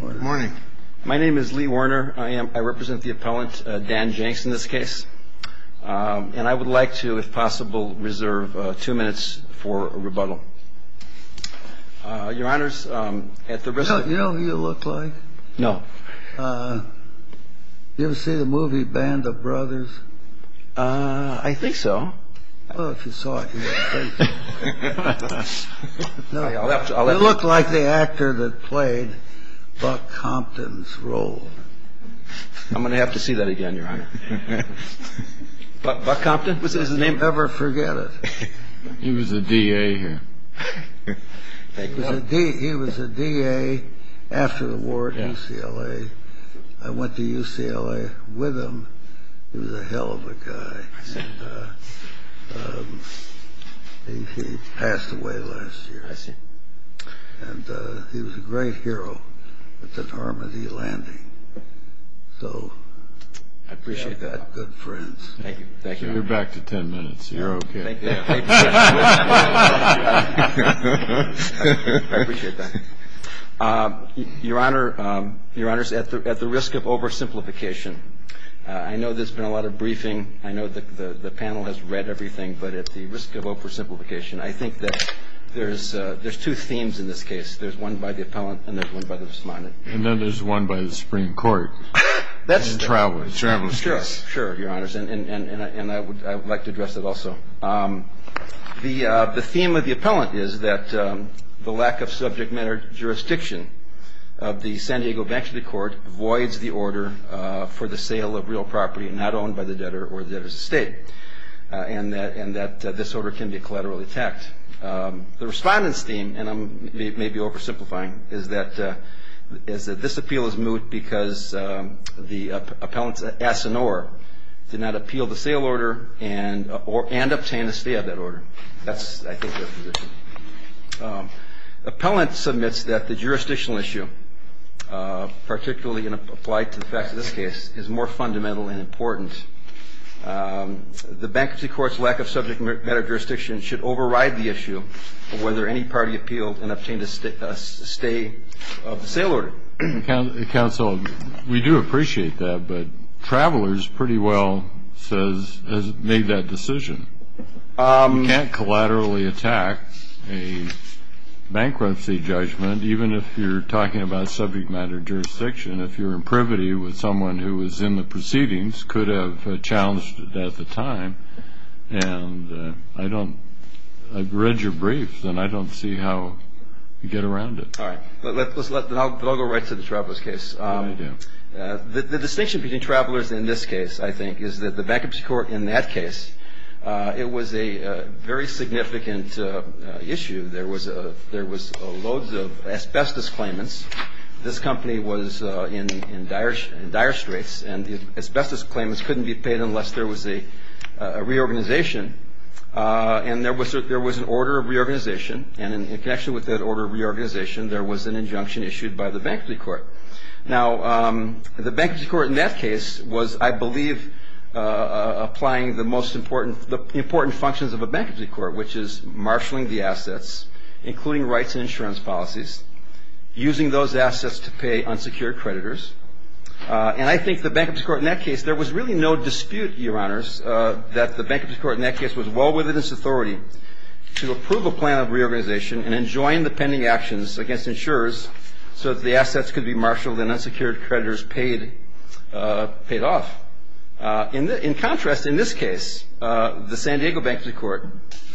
Morning. My name is Lee Warner. I represent the appellant, Dan Jenks, in this case. And I would like to, if possible, reserve two minutes for a rebuttal. Your Honours, at the risk of... You know who you look like? No. You ever see the movie Band of Brothers? I think so. Well, if you saw it, you'd be crazy. It looked like the actor that played Buck Compton's role. I'm going to have to see that again, Your Honour. Buck Compton? Was that his name? Never forget it. He was a DA here. He was a DA after the war at UCLA. I went to UCLA with him. He was a hell of a guy. I see. He passed away last year. I see. And he was a great hero at the Normandy landing. So... I appreciate that. Good friends. Thank you. You're back to ten minutes. You're okay. Thank you. I appreciate that. Your Honours, at the risk of oversimplification, I know there's been a lot of briefing. I know the panel has read everything, but at the risk of oversimplification, I think that there's two themes in this case. There's one by the appellant, and there's one by the respondent. And then there's one by the Supreme Court. That's the travelers' case. Sure, Your Honours. And I would like to address that also. The theme of the appellant is that the lack of subject matter jurisdiction of the San Diego bankruptcy court voids the order for the sale of real property not owned by the debtor or the debtor's estate, and that this order can be collaterally attacked. The respondent's theme, and I may be oversimplifying, is that this appeal is moot because the appellant's ass and oar did not appeal the sale order and obtain a stay of that order. That's, I think, their position. The appellant submits that the jurisdictional issue, particularly applied to the fact of this case, is more fundamental and important. The bankruptcy court's lack of subject matter jurisdiction should override the issue of whether any party appealed and obtained a stay of the sale order. Counsel, we do appreciate that, but travelers pretty well made that decision. You can't collaterally attack a bankruptcy judgment, even if you're talking about subject matter jurisdiction. If you're in privity with someone who was in the proceedings, could have challenged at the time. And I don't – I've read your brief, and I don't see how you get around it. All right. Then I'll go right to the traveler's case. The distinction between travelers in this case, I think, is that the bankruptcy court in that case, it was a very significant issue. There was loads of asbestos claimants. This company was in dire straits, and the asbestos claimants couldn't be paid unless there was a reorganization. And there was an order of reorganization, and in connection with that order of reorganization, there was an injunction issued by the bankruptcy court. Now, the bankruptcy court in that case was, I believe, applying the most important – the important functions of a bankruptcy court, which is marshaling the assets, including rights and insurance policies, using those assets to pay unsecured creditors. And I think the bankruptcy court in that case, there was really no dispute, Your Honors, that the bankruptcy court in that case was well within its authority to approve a plan of reorganization and enjoin the pending actions against insurers so that the assets could be marshaled and unsecured creditors paid off. In contrast, in this case, the San Diego bankruptcy court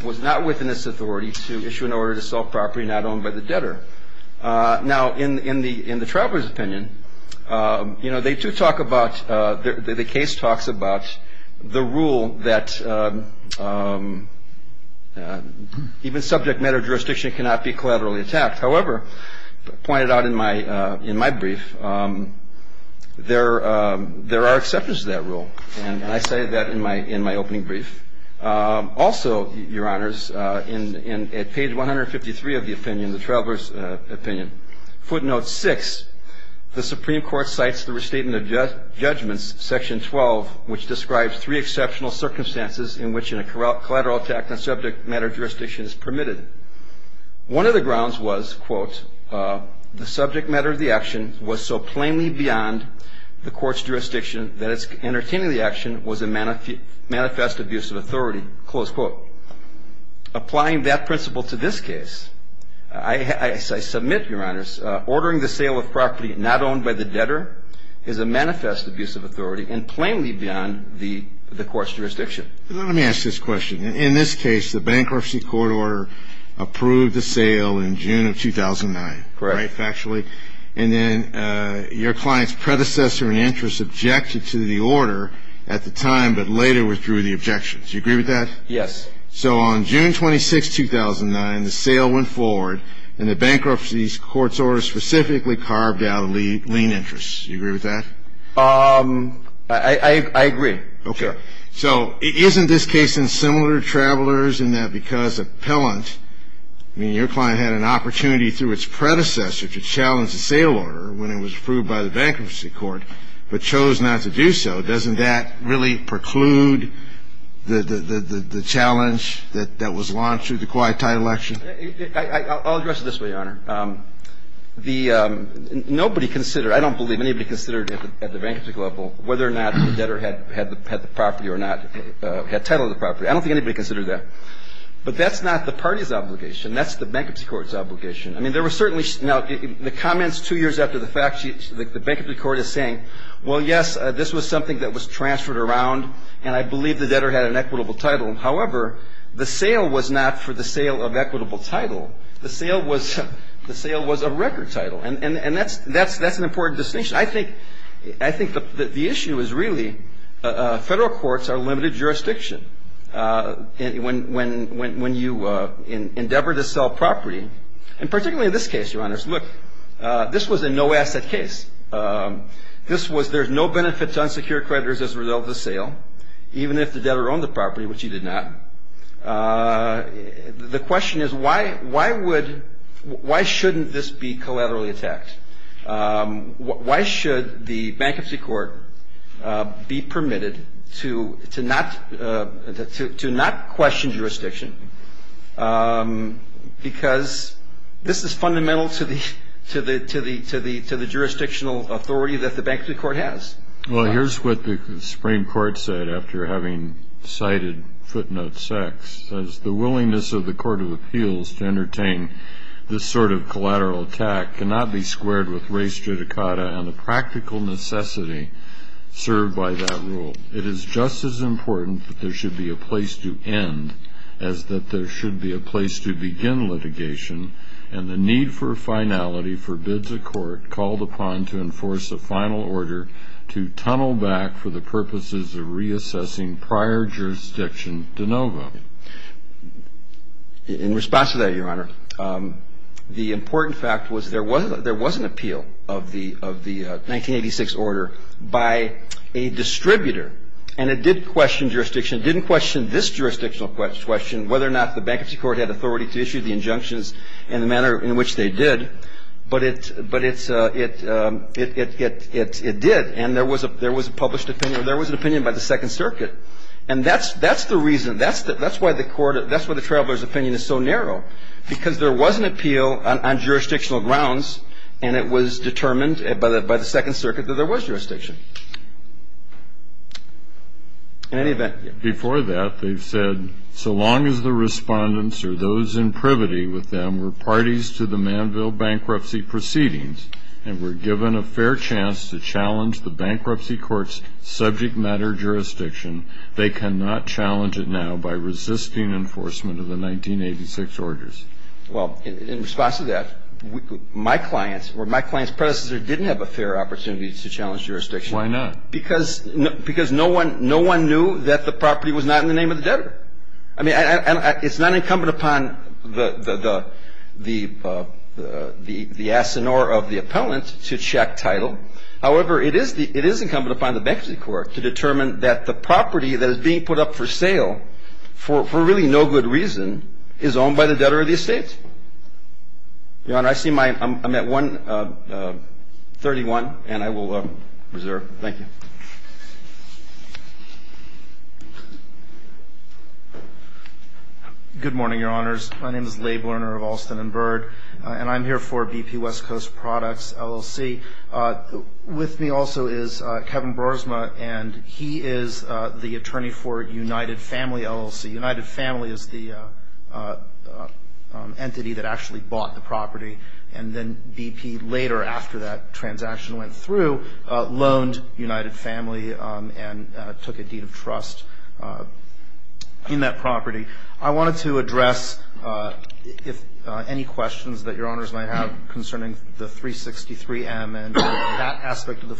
was not within its authority to issue an order to sell property not owned by the debtor. Now, in the traveler's opinion, you know, they do talk about – the case talks about the rule that even subject matter jurisdiction cannot be collaterally attacked. However, pointed out in my brief, there are exceptions to that rule. And I cited that in my opening brief. Also, Your Honors, at page 153 of the opinion, the traveler's opinion, footnote 6, the Supreme Court cites the restatement of judgments, section 12, which describes three exceptional circumstances in which a collateral attack on subject matter jurisdiction is permitted. One of the grounds was, quote, the subject matter of the action was so plainly beyond the court's jurisdiction that entertaining the action was a manifest abuse of authority, close quote. In other words, ordering the sale of property not owned by the debtor is a manifest abuse of authority and plainly beyond the court's jurisdiction. Let me ask this question. In this case, the bankruptcy court order approved the sale in June of 2009. Correct. Factually. And then your client's predecessor in interest objected to the order at the time, but later withdrew the objections. Do you agree with that? Yes. So on June 26, 2009, the sale went forward, and the bankruptcy court's order specifically carved out a lien interest. Do you agree with that? I agree. Okay. So isn't this case in similar travelers in that because appellant, meaning your client had an opportunity through its predecessor to challenge the sale order when it was approved by the bankruptcy court, but chose not to do so, doesn't that really preclude the challenge that was launched through the quiet title action? I'll address it this way, Your Honor. Nobody considered, I don't believe anybody considered at the bankruptcy level whether or not the debtor had the property or not, had title of the property. I don't think anybody considered that. But that's not the party's obligation. That's the bankruptcy court's obligation. I mean, there were certainly now the comments two years after the fact, the bankruptcy court is saying, well, yes, this was something that was transferred around, and I believe the debtor had an equitable title. However, the sale was not for the sale of equitable title. The sale was a record title. And that's an important distinction. I think the issue is really federal courts are limited jurisdiction. When you endeavor to sell property, and particularly in this case, Your Honor, look, this was a no-asset case. This was there's no benefit to unsecured creditors as a result of the sale, even if the debtor owned the property, which he did not. The question is why would, why shouldn't this be collaterally attacked? Why should the bankruptcy court be permitted to not question jurisdiction? Because this is fundamental to the jurisdictional authority that the bankruptcy court has. Well, here's what the Supreme Court said after having cited footnote 6. It says, The willingness of the Court of Appeals to entertain this sort of collateral attack cannot be squared with race judicata and the practical necessity served by that rule. It is just as important that there should be a place to end as that there should be a place to begin litigation, and the need for finality forbids a court called upon to enforce a final order to tunnel back for the purposes of reassessing prior jurisdiction de novo. In response to that, Your Honor, the important fact was there was an appeal of the 1986 order by a distributor, and it did question jurisdiction. It didn't question this jurisdictional question, whether or not the bankruptcy court had authority to issue the injunctions in the manner in which they did, but it did, and there was a published opinion, or there was an opinion by the Second Circuit. And that's the reason, that's why the court, that's why the traveler's opinion is so narrow, because there was an appeal on jurisdictional grounds, and it was determined by the Second Circuit that there was jurisdiction. In any event. Before that, they've said, so long as the respondents or those in privity with them were parties to the Manville bankruptcy proceedings and were given a fair chance to challenge the bankruptcy court's subject matter jurisdiction, they cannot challenge it now by resisting enforcement of the 1986 orders. Well, in response to that, my clients, or my client's predecessor, didn't have a fair opportunity to challenge jurisdiction. Why not? Because no one knew that the property was not in the name of the debtor. I mean, it's not incumbent upon the asinore of the appellant to check title. However, it is incumbent upon the bankruptcy court to determine that the property that is being put up for sale for really no good reason is owned by the debtor of the estate. Your Honor, I see my, I'm at 1.31, and I will reserve. Thank you. Good morning, Your Honors. My name is Leigh Borner of Alston and Bird, and I'm here for BP West Coast Products, LLC. With me also is Kevin Broersma, and he is the attorney for United Family, LLC. United Family is the entity that actually bought the property, and then BP later after that transaction went through, loaned United Family and took a deed of trust in that property. I wanted to address any questions that Your Honors might have concerning the 363M and that aspect of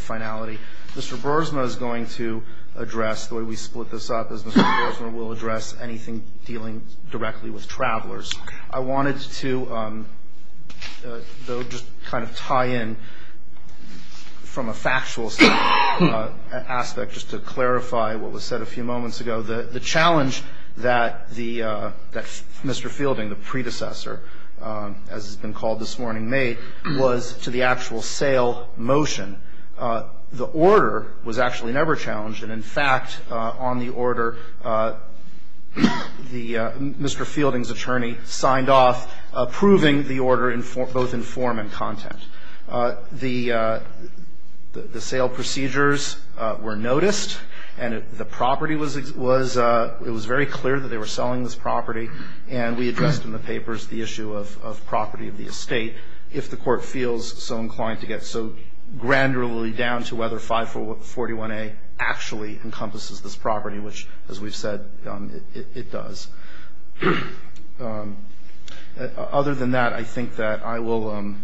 finality. Mr. Broersma is going to address the way we split this up, as Mr. Broersma will address anything dealing directly with travelers. I wanted to just kind of tie in from a factual aspect just to clarify what was said a few moments ago. The challenge that Mr. Fielding, the predecessor, as has been called this morning, made was to the actual sale motion. The order was actually never challenged, and in fact, on the order, Mr. Fielding's attorney signed off approving the order both in form and content. The sale procedures were noticed, and the property was ‑‑ it was very clear that they were selling this property, and we addressed in the papers the issue of property of the estate if the court feels so inclined to get so granularly down to whether 541A actually encompasses this property, which, as we've said, it does. Other than that, I think that I will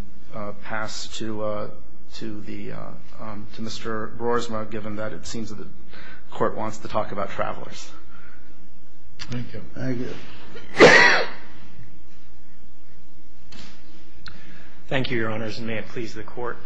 pass to Mr. Broersma, given that it seems that the court wants to talk about travelers. Thank you. Thank you, Your Honors, and may it please the Court.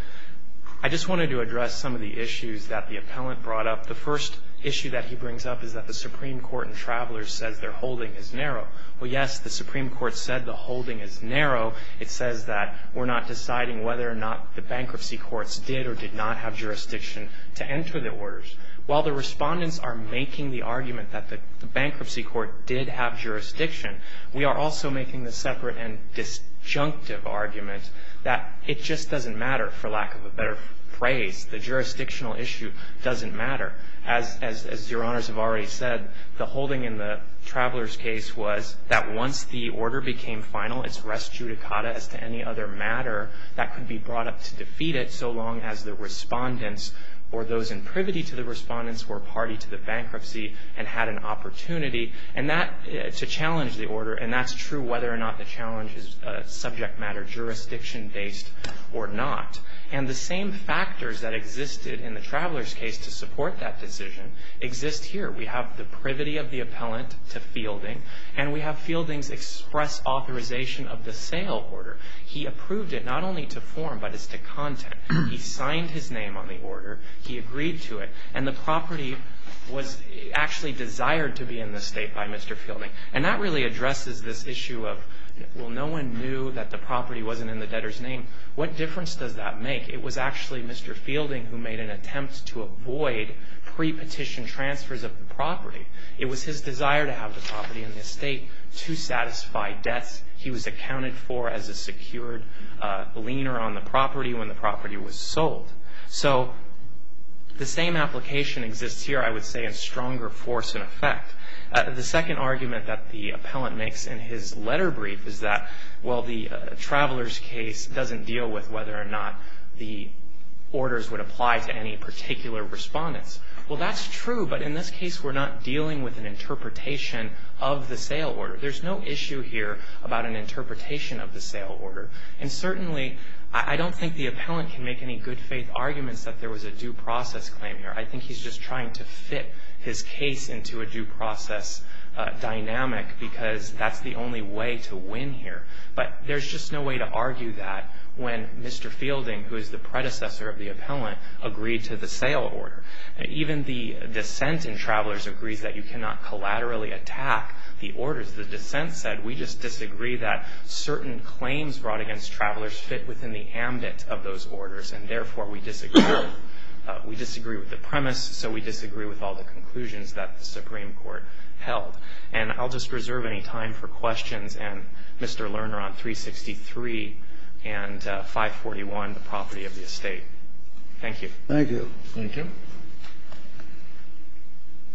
I just wanted to address some of the issues that the appellant brought up. The first issue that he brings up is that the Supreme Court in Travelers says their holding is narrow. Well, yes, the Supreme Court said the holding is narrow. It says that we're not deciding whether or not the bankruptcy courts did or did not have jurisdiction to enter the orders. While the respondents are making the argument that the bankruptcy court did have jurisdiction, we are also making the separate and disjunctive argument that it just doesn't matter, for lack of a better phrase. The jurisdictional issue doesn't matter. As Your Honors have already said, the holding in the Travelers case was that once the order became final, it's res judicata as to any other matter that could be brought up to defeat it so long as the respondents or those in privity to the respondents were party to the bankruptcy and had an opportunity to challenge the order. And that's true whether or not the challenge is subject matter jurisdiction-based or not. And the same factors that existed in the Travelers case to support that decision exist here. We have the privity of the appellant to Fielding, and we have Fielding's express authorization of the sale order. He approved it not only to form but as to content. He signed his name on the order. He agreed to it. And the property was actually desired to be in the estate by Mr. Fielding. And that really addresses this issue of, well, no one knew that the property wasn't in the debtor's name. What difference does that make? It was actually Mr. Fielding who made an attempt to avoid pre-petition transfers of the property. It was his desire to have the property in the estate to satisfy debts. He was accounted for as a secured leaner on the property when the property was sold. So the same application exists here, I would say, in stronger force and effect. The second argument that the appellant makes in his letter brief is that, well, the traveler's case doesn't deal with whether or not the orders would apply to any particular respondents. Well, that's true, but in this case, we're not dealing with an interpretation of the sale order. There's no issue here about an interpretation of the sale order. And certainly I don't think the appellant can make any good faith arguments that there was a due process claim here. I think he's just trying to fit his case into a due process dynamic because that's the only way to win here. But there's just no way to argue that when Mr. Fielding, who is the predecessor of the appellant, agreed to the sale order. Even the dissent in Travelers agrees that you cannot collaterally attack the orders. The dissent said, we just disagree that certain claims brought against Travelers fit within the ambit of those orders, and therefore we disagree. We disagree with the premise, so we disagree with all the conclusions that the Supreme Court held. And I'll just reserve any time for questions. And, Mr. Lerner, on 363 and 541, the property of the estate. Thank you. Thank you. Thank you.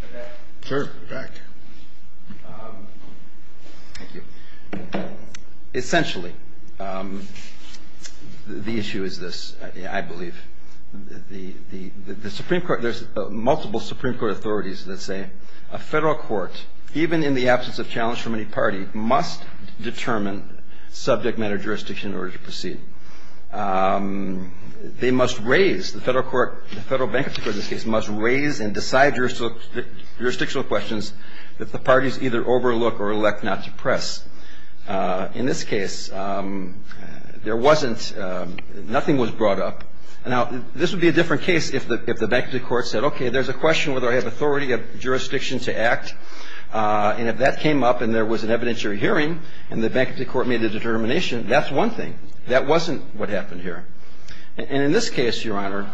Mr. Beck. Sure. Mr. Beck. Thank you. Essentially, the issue is this, I believe. The Supreme Court, there's multiple Supreme Court authorities that say a Federal court, even in the absence of challenge from any party, must determine subject matter jurisdiction in order to proceed. They must raise, the Federal court, the Federal bankruptcy court in this case must raise and decide jurisdictional questions that the parties either overlook or elect not to press. In this case, there wasn't, nothing was brought up. Now, this would be a different case if the bankruptcy court said, okay, there's a question whether I have authority of jurisdiction to act. And if that came up and there was an evidentiary hearing, and the bankruptcy court made a determination, that's one thing. That wasn't what happened here. And in this case, Your Honor,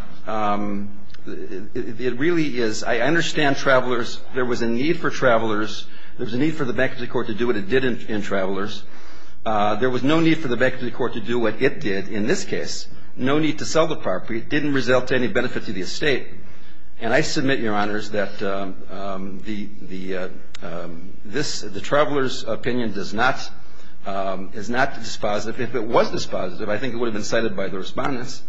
it really is, I understand travelers, there was a need for travelers, there was a need for the bankruptcy court to do what it did in travelers. There was no need for the bankruptcy court to do what it did in this case. No need to sell the property. It didn't result to any benefit to the estate. And I submit, Your Honors, that the travelers' opinion does not, is not dispositive if it was dispositive. I think it would have been cited by the Respondents.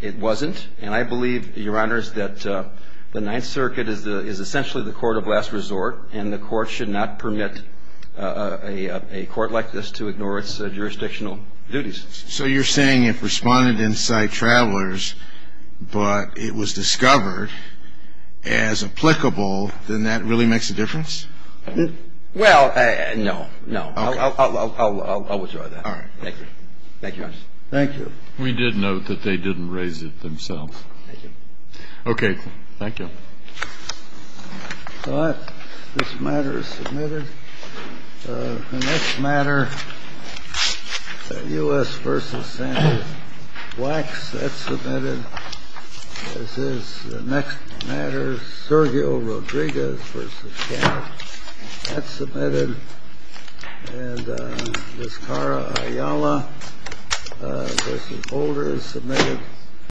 It wasn't. And I believe, Your Honors, that the Ninth Circuit is essentially the court of last resort, and the Court should not permit a court like this to ignore its jurisdictional duties. So you're saying if Respondents cite travelers, but it was discovered as applicable, then that really makes a difference? Well, no. No. I'll withdraw that. All right. Thank you. Thank you, Your Honors. Thank you. We did note that they didn't raise it themselves. Thank you. Okay. Thank you. All right. This matter is submitted. The next matter, U.S. v. Sanders-Wax. That's submitted. This is the next matter, Sergio Rodriguez v. Shannon. That's submitted. And Miss Cara Ayala v. Holder is submitted.